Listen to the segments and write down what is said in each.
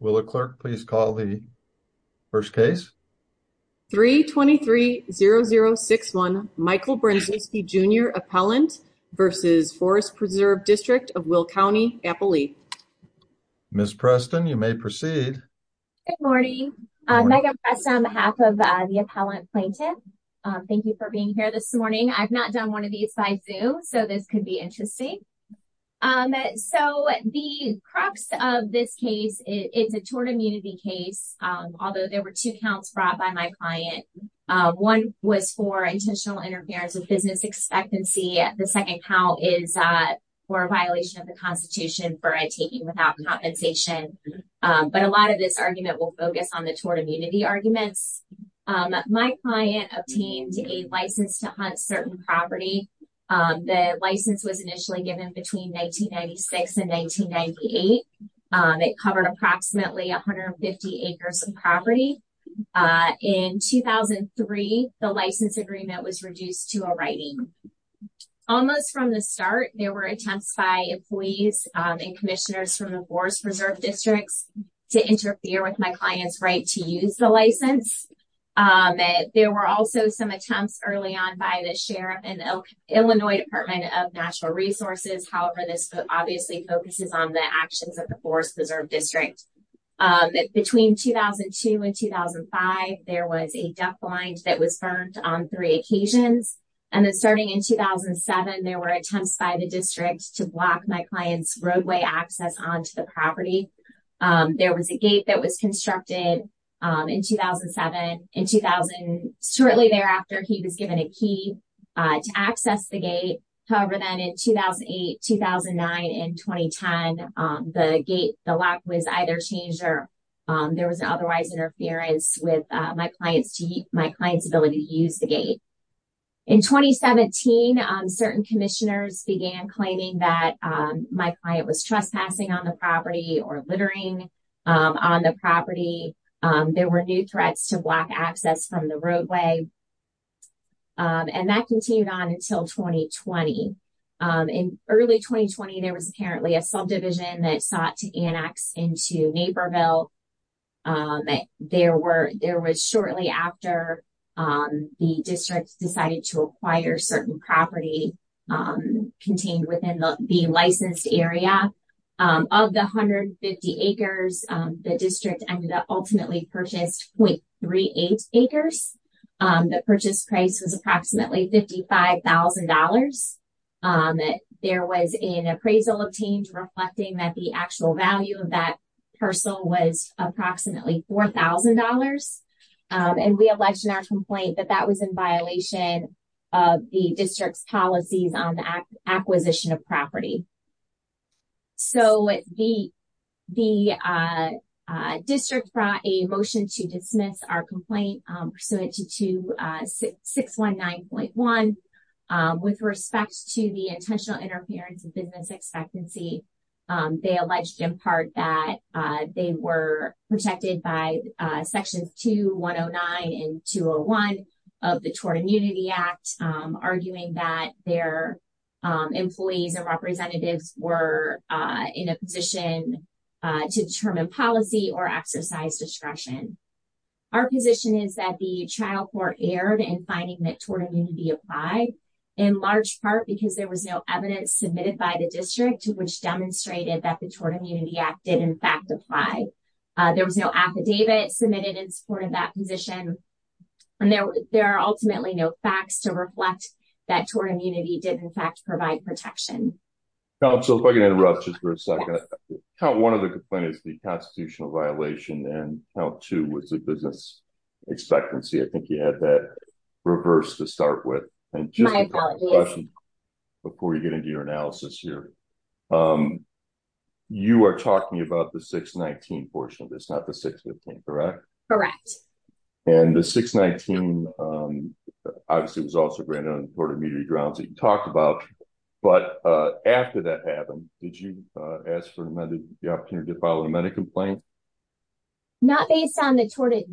Will the clerk please call the first case? 3-23-0061 Michael Brenczewski Jr. Appellant v. Forest Preserve District of Will County, Appalachia. Ms. Preston, you may proceed. Good morning. Megan Preston on behalf of the Appellant Plaintiff. Thank you for being here this morning. I've not done one of these by Zoom, so this could be interesting. So the of this case, it's a tort immunity case, although there were two counts brought by my client. One was for intentional interference with business expectancy. The second count is for a violation of the Constitution for a taking without compensation. But a lot of this argument will focus on the tort immunity arguments. My client obtained a license to hunt certain property. The license was initially given between 1996 and 1998. It covered approximately 150 acres of property. In 2003, the license agreement was reduced to a writing. Almost from the start, there were attempts by employees and commissioners from the Forest Preserve Districts to interfere with my client's right to use the license. There were also some attempts early on by the Sheriff and the Illinois Department of Natural Resources. However, this obviously focuses on the actions of the Forest Preserve District. Between 2002 and 2005, there was a death blind that was burned on three occasions. And then starting in 2007, there were attempts by the district to block my client's roadway access onto the property. There was a gate that was constructed in 2007. In 2000, shortly thereafter, he was given a key to access the gate. However, then in 2008, 2009, and 2010, the lock was either changed or there was an otherwise interference with my client's ability to use the gate. In 2017, certain commissioners began claiming that my client was trespassing on the property or littering on the property. There were new threats to block access from the roadway. And that continued on until 2020. In early 2020, there was apparently a subdivision that sought to annex into Naperville. There was shortly after the district decided to acquire certain property contained within the licensed area. Of the 150 acres, the district ended up ultimately purchased 0.38 acres. The purchase price was approximately $55,000. There was an appraisal obtained reflecting that the actual value of that parcel was approximately $4,000. And we alleged in our complaint that that was in violation of the district's policies on the acquisition of property. So, the district brought a motion to dismiss our complaint pursuant to 619.1 with respect to the intentional interference of business expectancy. They alleged in part that they were protected by sections 2, 109, and 201 of the Tort Immunity Act, arguing that their employees and representatives were in a position to determine policy or exercise discretion. Our position is that the trial court erred in finding that tort immunity applied, in large part because there was no evidence submitted by the district which demonstrated that the Tort Immunity Act did in fact apply. There was no affidavit submitted in support of that position. And there are ultimately no facts to reflect that tort immunity did in fact provide protection. Council, if I can interrupt just for a second. Count one of the complaints, the constitutional violation, and count two was the business expectancy. I think you had that reversed to start with. And just before you get into your analysis here, you are talking about the 619 portion of this, not the 615, correct? Correct. And the 619 obviously was also granted on the Tort Immunity Grounds that you talked about. But after that happened, did you ask for the opportunity to file a medical complaint? Not based on the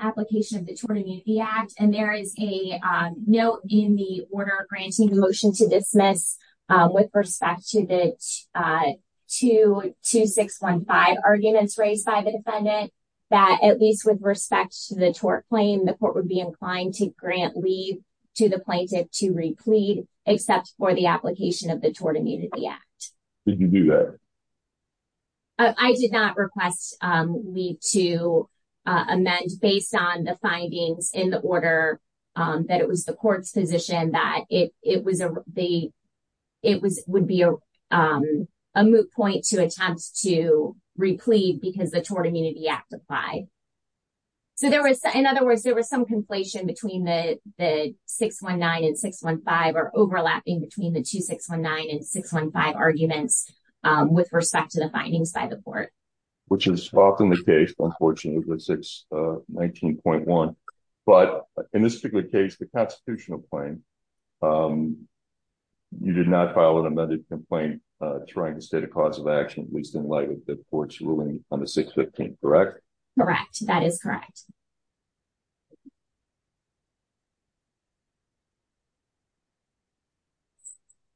application of the Tort Immunity Act. And there is a note in the order granting the motion to dismiss with respect to the 2615 arguments raised by the defendant that at least with respect to the tort claim, the court would be inclined to grant leave to the plaintiff to re-plead except for the application of the Tort Immunity Act. Did you do that? I did not request leave to amend based on the findings in the order that it was the court's position that it would be a moot point to attempt to re-plead because the Tort Immunity Act applied. So in other words, there was some conflation between the 619 and 615 or overlapping between the 2619 and 615 arguments with respect to the findings by the court. Which is often the case, unfortunately, with 619.1. But in this particular case, the constitutional claim, you did not file an amended complaint trying to state a cause of action, at least in light of the court's ruling on the 615, correct? Correct. That is correct.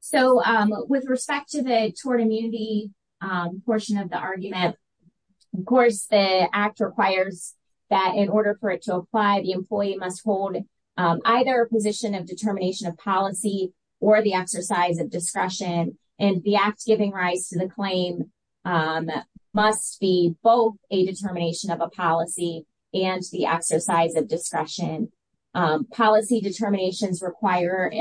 So with respect to the tort immunity portion of the argument, of course, the act requires that in order for it to apply, the employee must hold either a position of determination of policy or the exercise of discretion. And the act giving rise to the claim must be both a determination of a policy and the exercise of discretion. Policy determinations require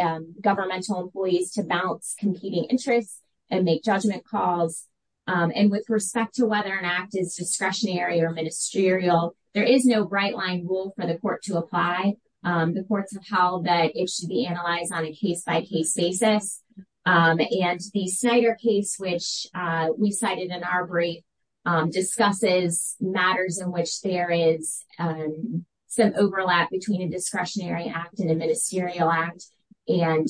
governmental employees to balance competing interests and make judgment calls. And with respect to whether an act is discretionary or ministerial, there is no bright line rule for the court to apply. The courts have held that it should be analyzed on a case-by-case basis. And the Snyder case, which we cited in our brief, discusses matters in which there is some overlap between a discretionary act and a ministerial act. And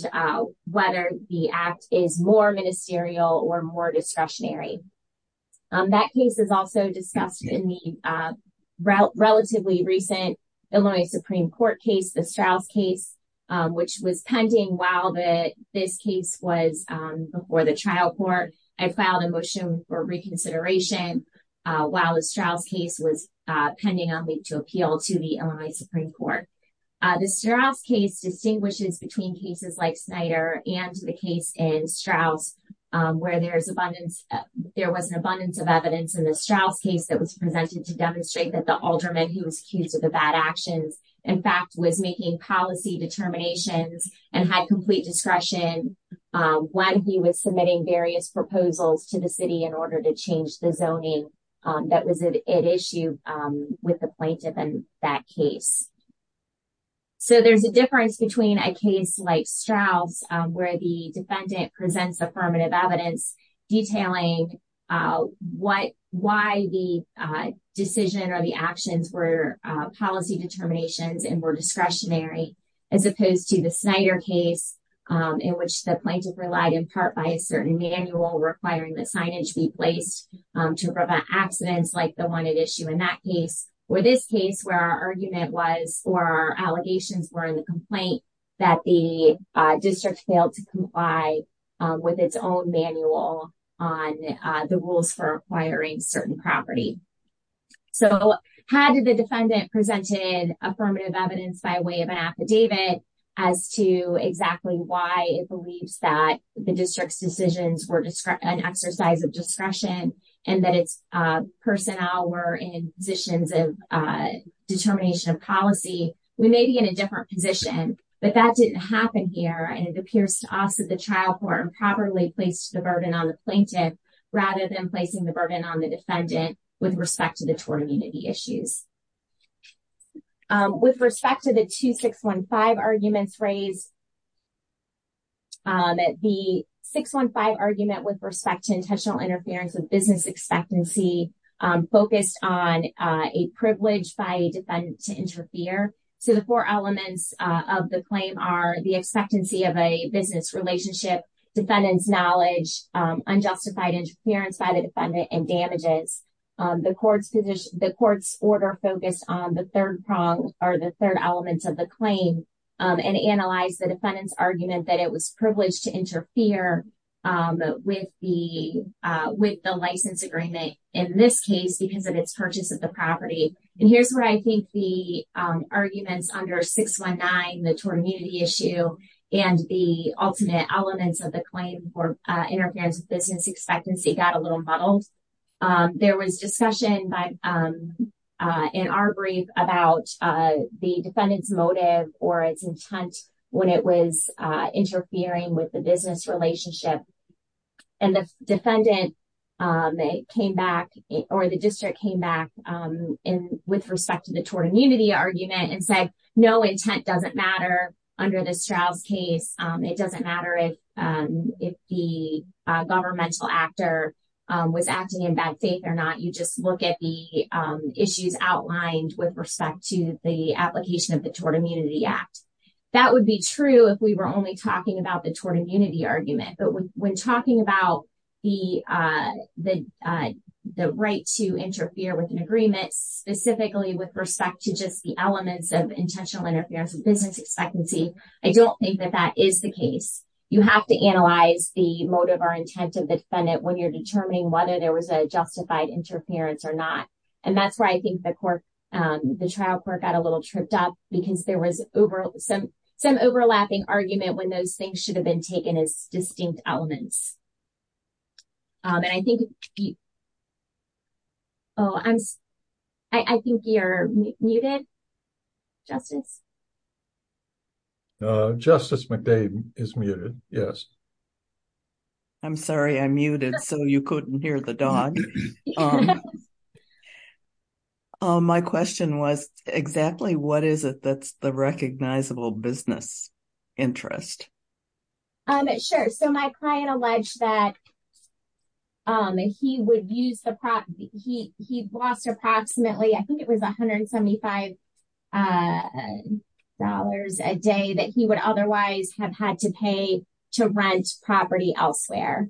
whether the act is more ministerial or more discretionary. That case is also discussed in the relatively recent Illinois Supreme Court case, the Straus case, which was pending while this case was before the trial court. I filed a motion for reconsideration while the Straus case was pending on me to appeal to the Illinois Supreme Court. The Straus case distinguishes between cases like Snyder and the case in Straus, where there was an abundance of evidence in the Straus case that was presented to demonstrate that the alderman who was accused of the bad actions, in fact, was making policy determinations and had complete discretion when he was submitting various proposals to the city in order to change the zoning that was at issue with the plaintiff in that case. So, there's a difference between a case like Straus, where the defendant presents affirmative evidence detailing why the decision or the actions were policy determinations and were discretionary, as opposed to the Snyder case, in which the plaintiff relied in part by a certain manual requiring that signage be placed to prevent accidents like the one at issue in that case, or this case, where our argument was or our allegations were in the complaint that the district failed to comply with its own manual on the rules for acquiring certain property. So, had the defendant presented affirmative evidence by way of an affidavit as to exactly why it believes that the district's decisions were an exercise of discretion and that its determination of policy, we may be in a different position, but that didn't happen here and it appears to us that the trial court improperly placed the burden on the plaintiff rather than placing the burden on the defendant with respect to the tort immunity issues. With respect to the 2615 arguments raised, the 615 argument with respect to intentional interference of business expectancy focused on a privilege by a defendant to interfere. So, the four elements of the claim are the expectancy of a business relationship, defendant's knowledge, unjustified interference by the defendant, and damages. The court's position, the court's order focused on the third prong or the third element of the claim and analyzed the defendant's argument that it was in this case because of its purchase of the property. And here's where I think the arguments under 619, the tort immunity issue, and the ultimate elements of the claim for interference of business expectancy got a little muddled. There was discussion in our brief about the defendant's motive or its intent when it was interfering with the business relationship. And the defendant came back or the district came back with respect to the tort immunity argument and said no intent doesn't matter under this trial's case. It doesn't matter if the governmental actor was acting in bad faith or not. You just look at the issues outlined with respect to the application of the tort immunity act. That would be true if we were only talking about the talking about the right to interfere with an agreement specifically with respect to just the elements of intentional interference of business expectancy. I don't think that that is the case. You have to analyze the motive or intent of the defendant when you're determining whether there was a justified interference or not. And that's why I think the trial court got a little tripped up because there was some overlapping argument when those things should have been taken as distinct elements. And I think, oh, I'm, I think you're muted, Justice. Justice McDade is muted. Yes. I'm sorry, I muted so you couldn't hear the dog. My question was exactly what is it that's the recognizable business interest? Um, sure. So my client alleged that he would use the prop. He, he lost approximately, I think it was $175 a day that he would otherwise have had to pay to rent property elsewhere.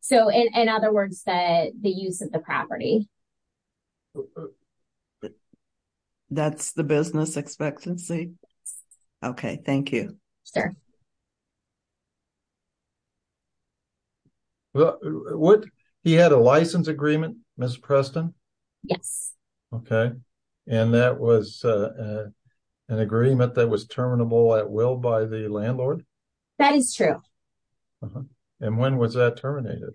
So in other words, that the use of the property. That's the business expectancy. Okay, thank you, sir. Well, what he had a license agreement, Miss Preston. Yes. Okay. And that was an agreement that was terminable at will by the landlord. That is true. And when was that terminated?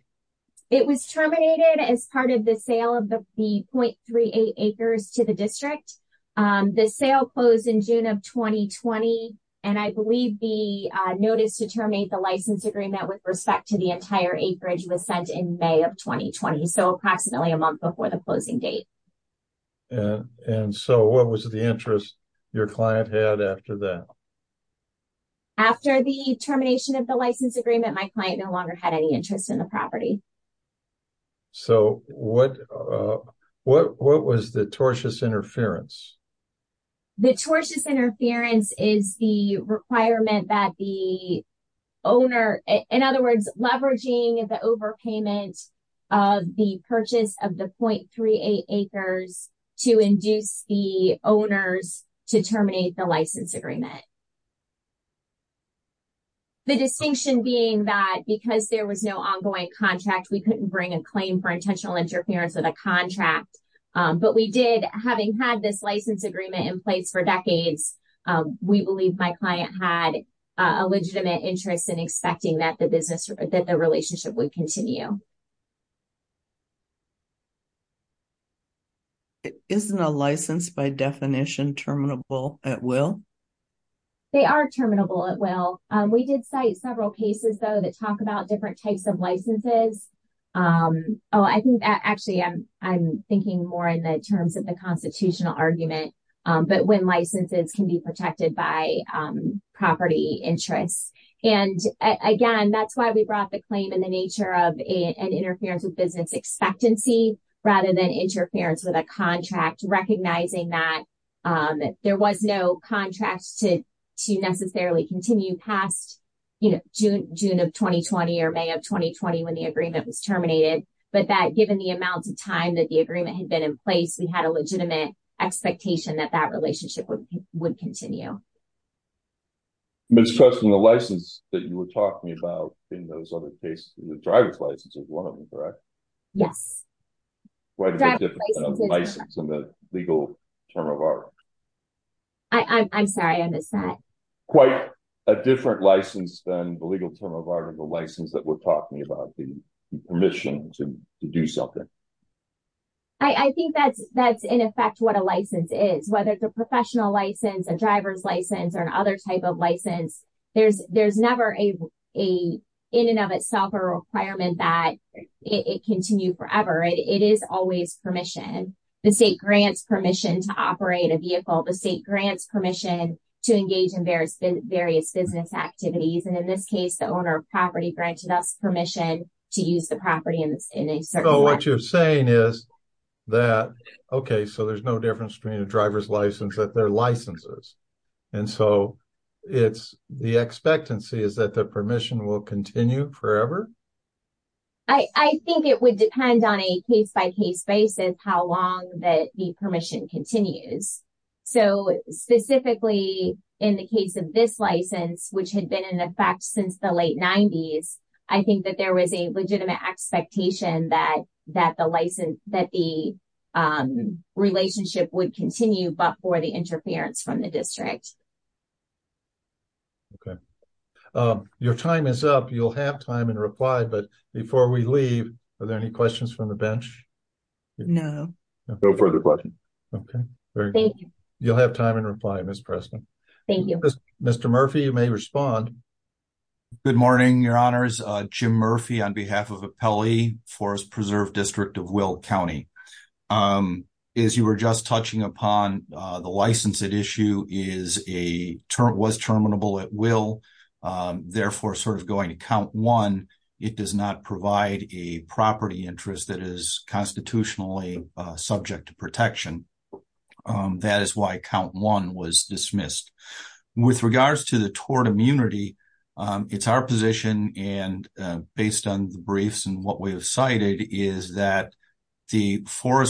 It was terminated as part of the sale of the point three, eight acres to the district. The sale closed in June of 2020. And I believe the notice to terminate the license agreement with respect to the entire acreage was sent in May of 2020. So approximately a month before the closing date. And so what was the interest your client had after that? After the termination of the license agreement, my client no longer had any interest in the property. So what, what, what was the tortious interference? The tortious interference is the requirement that the owner, in other words, leveraging the overpayment of the purchase of the point three, eight acres to induce the owners to terminate the license agreement. The distinction being that because there was no ongoing contract, we couldn't bring a claim for intentional interference with a contract. But we did, having had this license agreement in place for decades, we believe my client had a legitimate interest in expecting that the business that the relationship would continue. Isn't a license by definition terminable at will? They are terminable at will. We did cite several cases, though, that talk about different types of licenses. Oh, I think actually I'm, I'm thinking more in the terms of the constitutional argument, but when licenses can be protected by property interests. And again, that's why we brought the and interference with business expectancy, rather than interference with a contract, recognizing that there was no contracts to, to necessarily continue past, you know, June, June of 2020, or May of 2020, when the agreement was terminated. But that given the amount of time that the agreement had been in place, we had a legitimate expectation that that relationship would continue. Ms. Preston, the license that you were talking about in those other cases, the driver's license is one of them, correct? Yes. Why is there a difference between a license and a legal term of order? I, I'm sorry, I missed that. Quite a different license than the legal term of order, the license that we're talking about, the permission to do something. I think that's, that's in effect what a license is, whether it's a professional license, a driver's license, or another type of license. There's, there's never a, a, in and of itself, a requirement that it continue forever. It is always permission. The state grants permission to operate a vehicle, the state grants permission to engage in various, various business activities. And in this case, the owner of property granted us permission to use the property in a certain way. So what you're saying is that, okay, so there's no difference between a driver's license that license is. And so it's, the expectancy is that the permission will continue forever? I, I think it would depend on a case-by-case basis, how long that the permission continues. So specifically in the case of this license, which had been in effect since the late 90s, I think that there was a legitimate expectation that, that the license, that the relationship would continue, but for the interference from the district. Okay. Your time is up. You'll have time and reply, but before we leave, are there any questions from the bench? No. No further questions. Okay. Thank you. You'll have time and reply, Ms. Preston. Thank you. Mr. Murphy, you may respond. Good morning, your honors. Jim Murphy on behalf of Appellee Forest Preserve District of Will County. As you were just touching upon, the license at issue is a term, was terminable at will, therefore sort of going to count one, it does not provide a property interest that is constitutionally subject to protection. That is why count one was dismissed. With regards to the tort immunity, it's our position and based on the briefs and what we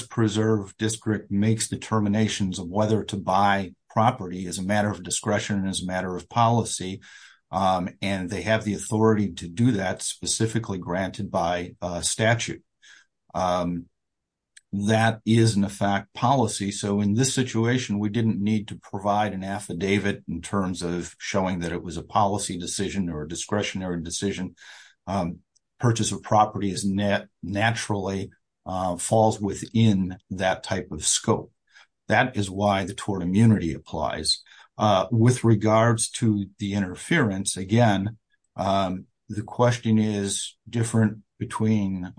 preserve, district makes determinations of whether to buy property as a matter of discretion and as a matter of policy. And they have the authority to do that specifically granted by statute. That is in effect policy. So in this situation, we didn't need to provide an affidavit in terms of showing that it was a policy decision or a discretionary decision. Purchase of property is net, naturally falls within that type of scope. That is why the tort immunity applies. With regards to the interference, again, the question is different between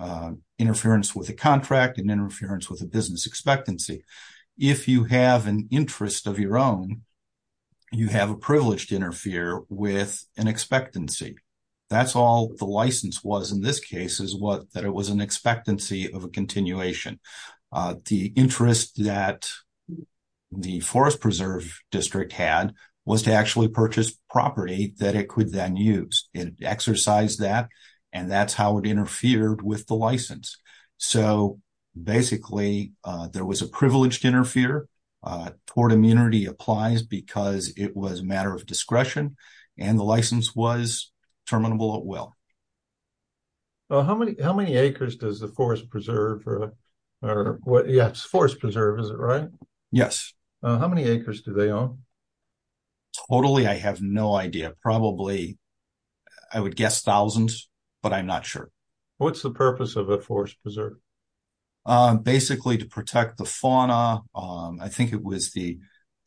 interference with a contract and interference with a business expectancy. If you have an interest of your own, you have a privilege to interfere with an expectancy. That's all the license was in this case is that it was an expectancy of a continuation. The interest that the Forest Preserve District had was to actually purchase property that it could then use. It exercised that and that's how it interfered with the license. So basically, there was a privileged interfere. Tort immunity applies because it was a matter of discretion and the license was terminable at will. How many acres does the Forest Preserve? Yes, Forest Preserve, is it right? Yes. How many acres do they own? Totally, I have no idea. Probably, I would guess thousands, but I'm not sure. What's the purpose of a Forest Preserve? Basically, to protect the fauna. I think it was the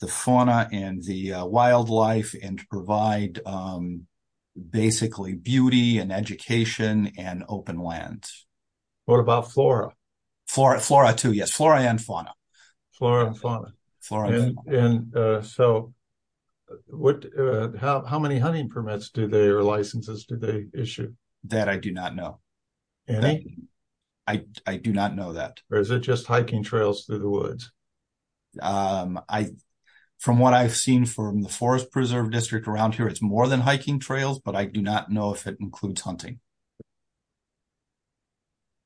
fauna and the wildlife and to provide basically beauty and education and open land. What about flora? Flora too, yes, flora and fauna. Flora and fauna. How many hunting permits do they or licenses do they issue? That I do not know. Any? I do not know that. Or is it just hiking trails through the woods? From what I've seen from the Forest Preserve District around here, it's more than hiking trails, but I do not know if it includes hunting.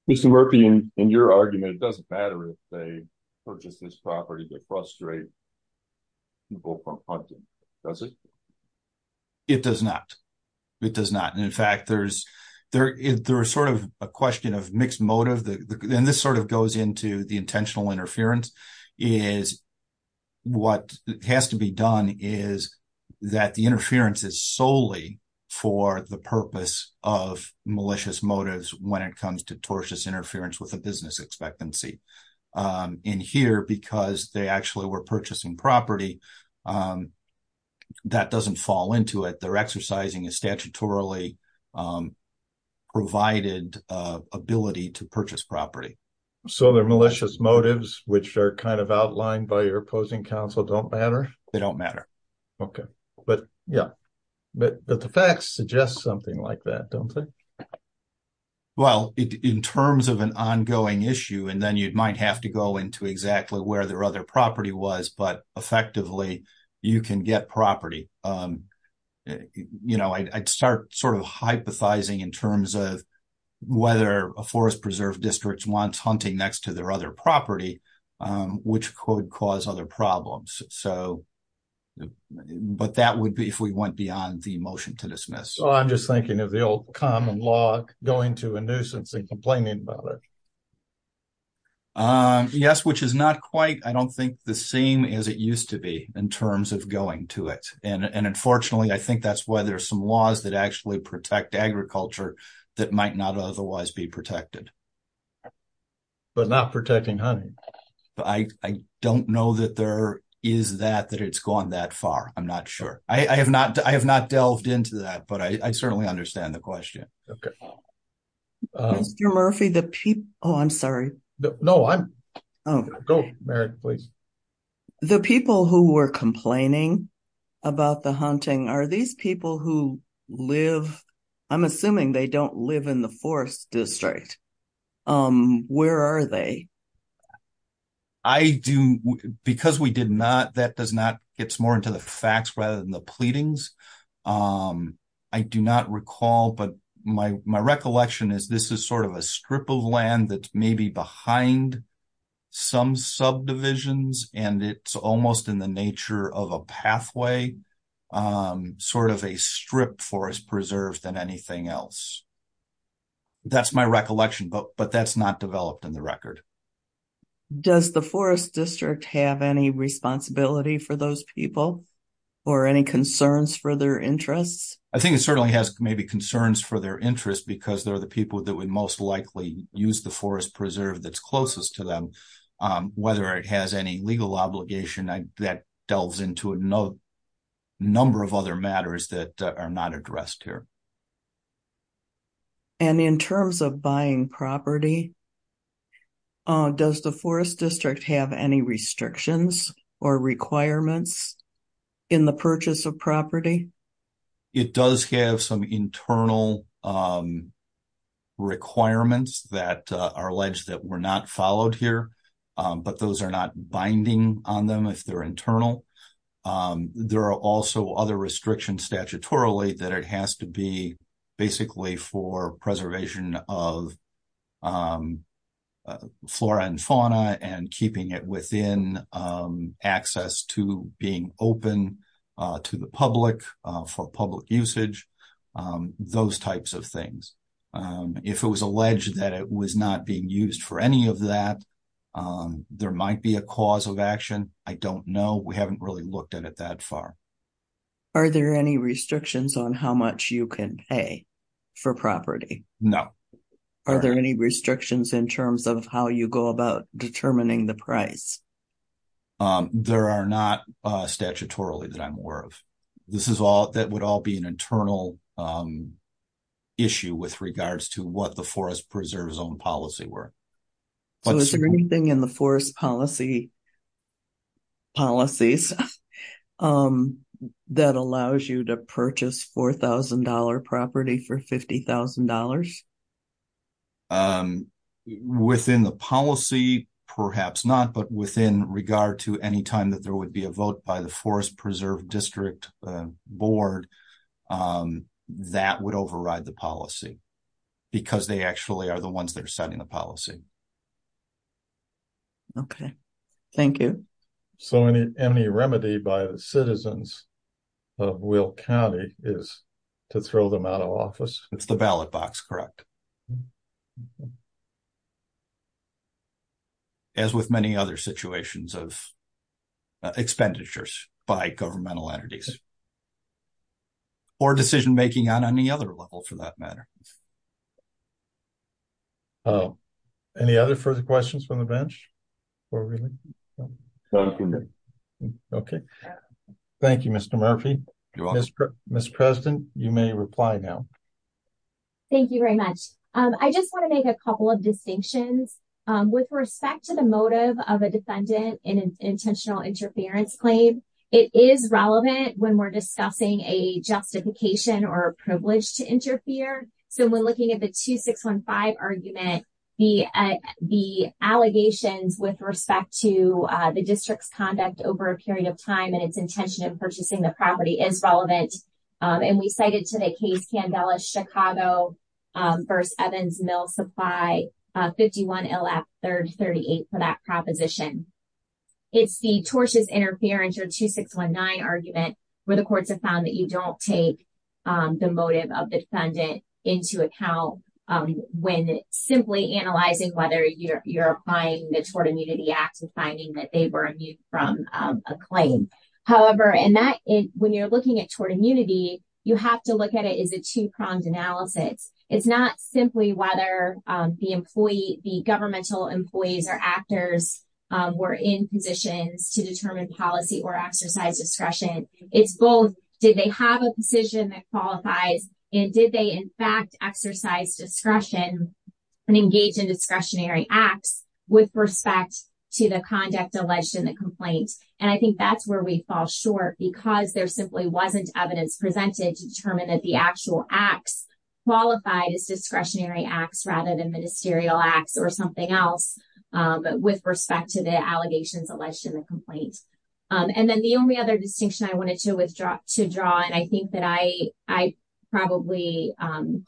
Mr. Murphy, in your argument, it doesn't matter if they purchase this property to frustrate people from hunting, does it? It does not. It does not. In fact, there's sort of a question of mixed motive. This sort of goes into the intentional interference. What has to be done is that the interference is solely for the purpose of malicious motives when it comes to tortious interference with a business expectancy. In here, because they actually were purchasing property, that doesn't fall into it. Their exercising is statutorily provided ability to purchase property. So their malicious motives, which are kind of outlined by your opposing counsel, don't matter? They don't matter. Okay, but yeah, but the facts suggest something like that, don't they? Well, in terms of an ongoing issue, and then you might have to go into exactly where their other property was, but effectively, you can get property. I'd start sort of hypothesizing in terms of whether a forest preserve district wants hunting next to their other property, which could cause other problems. But that would be if we went beyond the motion to dismiss. So I'm just thinking of the old common law, going to a nuisance and complaining about it. Yes, which is not quite, I don't think, the same as it used to be in terms of going to it. And unfortunately, I think that's why there's some laws that actually protect agriculture that might not otherwise be protected. But not protecting hunting. I don't know that there is that, that it's gone that far. I'm not sure. I have not delved into that, but I certainly understand the question. Okay. Mr. Murphy, the people, oh, I'm sorry. No, I'm okay. Go, Merrick, please. The people who were complaining about the hunting, are these people who live, I'm assuming they don't live in the forest district. Where are they? I do, because we did not, that does not, it's more into the facts rather than the pleadings. I do not recall, but my recollection is this is sort of a strip of land that's maybe behind some subdivisions. And it's almost in the nature of a pathway, sort of a strip forest preserved than anything else. That's my recollection, but that's not developed in the record. Does the forest district have any responsibility for those people or any concerns for their interests? I think it certainly has maybe concerns for their interest, because they're the people that would most likely use the forest preserve that's closest to them. Whether it has any legal obligation, that delves into a number of other matters that are not addressed here. And in terms of buying property, does the forest district have any restrictions or requirements in the purchase of property? It does have some internal requirements that are alleged that were not followed here, but those are not binding on them if they're internal. There are also other restrictions statutorily that it has to be basically for preservation of flora and fauna and keeping it within access to being open to the public for public usage, those types of things. If it was alleged that it was not being used for any of that, there might be a cause of action. I don't know. We haven't really looked at it that far. Are there any restrictions on how much you can pay for property? No. Are there any restrictions in terms of how you go about determining the price? There are not statutorily that I'm aware of. That would all be an internal issue with regards to what the forest preserve's own policy were. Is there anything in the forest policy policies that allows you to purchase $4,000 property for $50,000? Within the policy, perhaps not, but within regard to any time that there would be a vote by the forest preserve district board, that would override the policy because they actually are the ones that are setting the policy. Okay. Thank you. So, any remedy by the citizens of Will County is to throw them out of office? It's the ballot box, correct. As with many other situations of expenditures by governmental entities or decision-making on any other level for that matter. Hello. Any other further questions from the bench? Okay. Thank you, Mr. Murphy. Mr. President, you may reply now. Thank you very much. I just want to make a couple of distinctions. With respect to the motive of a defendant in an intentional interference claim, it is relevant when we're discussing a justification or privilege to interfere. So, when looking at the 2615 argument, the allegations with respect to the district's conduct over a period of time and its intention of purchasing the property is relevant. And we cited to the case Candela, Chicago v. Evans Mill Supply 51 LF 338 for that proposition. It's the tortious interference or 2619 argument where the courts have found that you don't take the motive of the defendant into account when simply analyzing whether you're applying the Tort Immunity Act and finding that they were immune from a claim. However, when you're looking at tort immunity, you have to look at it as a two-pronged analysis. It's not simply whether the governmental employees or actors were in positions to determine policy or exercise discretion. It's both, did they have a position that qualifies and did they, in fact, exercise discretion and engage in discretionary acts with respect to the conduct alleged in the complaint? And I think that's where we fall short because there simply wasn't evidence presented to determine that the actual acts qualified as discretionary acts rather than ministerial acts or something else with respect to the allegations alleged in the complaint. And then the only other distinction I wanted to withdraw to draw, and I think that I probably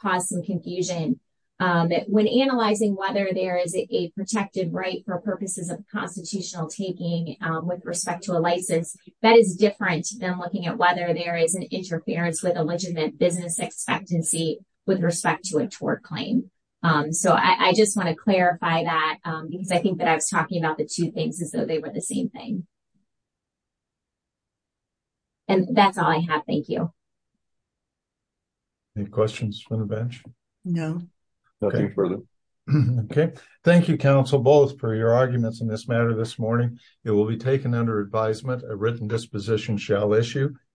caused some confusion, that when analyzing whether there is a protected right for purposes of constitutional taking with respect to a license, that is different than looking at whether there is an interference with a legitimate business expectancy with respect to a tort claim. So I just want to clarify that because I think that I was talking about the two things as though they were the same thing. And that's all I have. Thank you. Any questions from the bench? No. Okay. Thank you, counsel, both for your arguments in this matter this morning. It will be taken under advisement. A written disposition shall issue.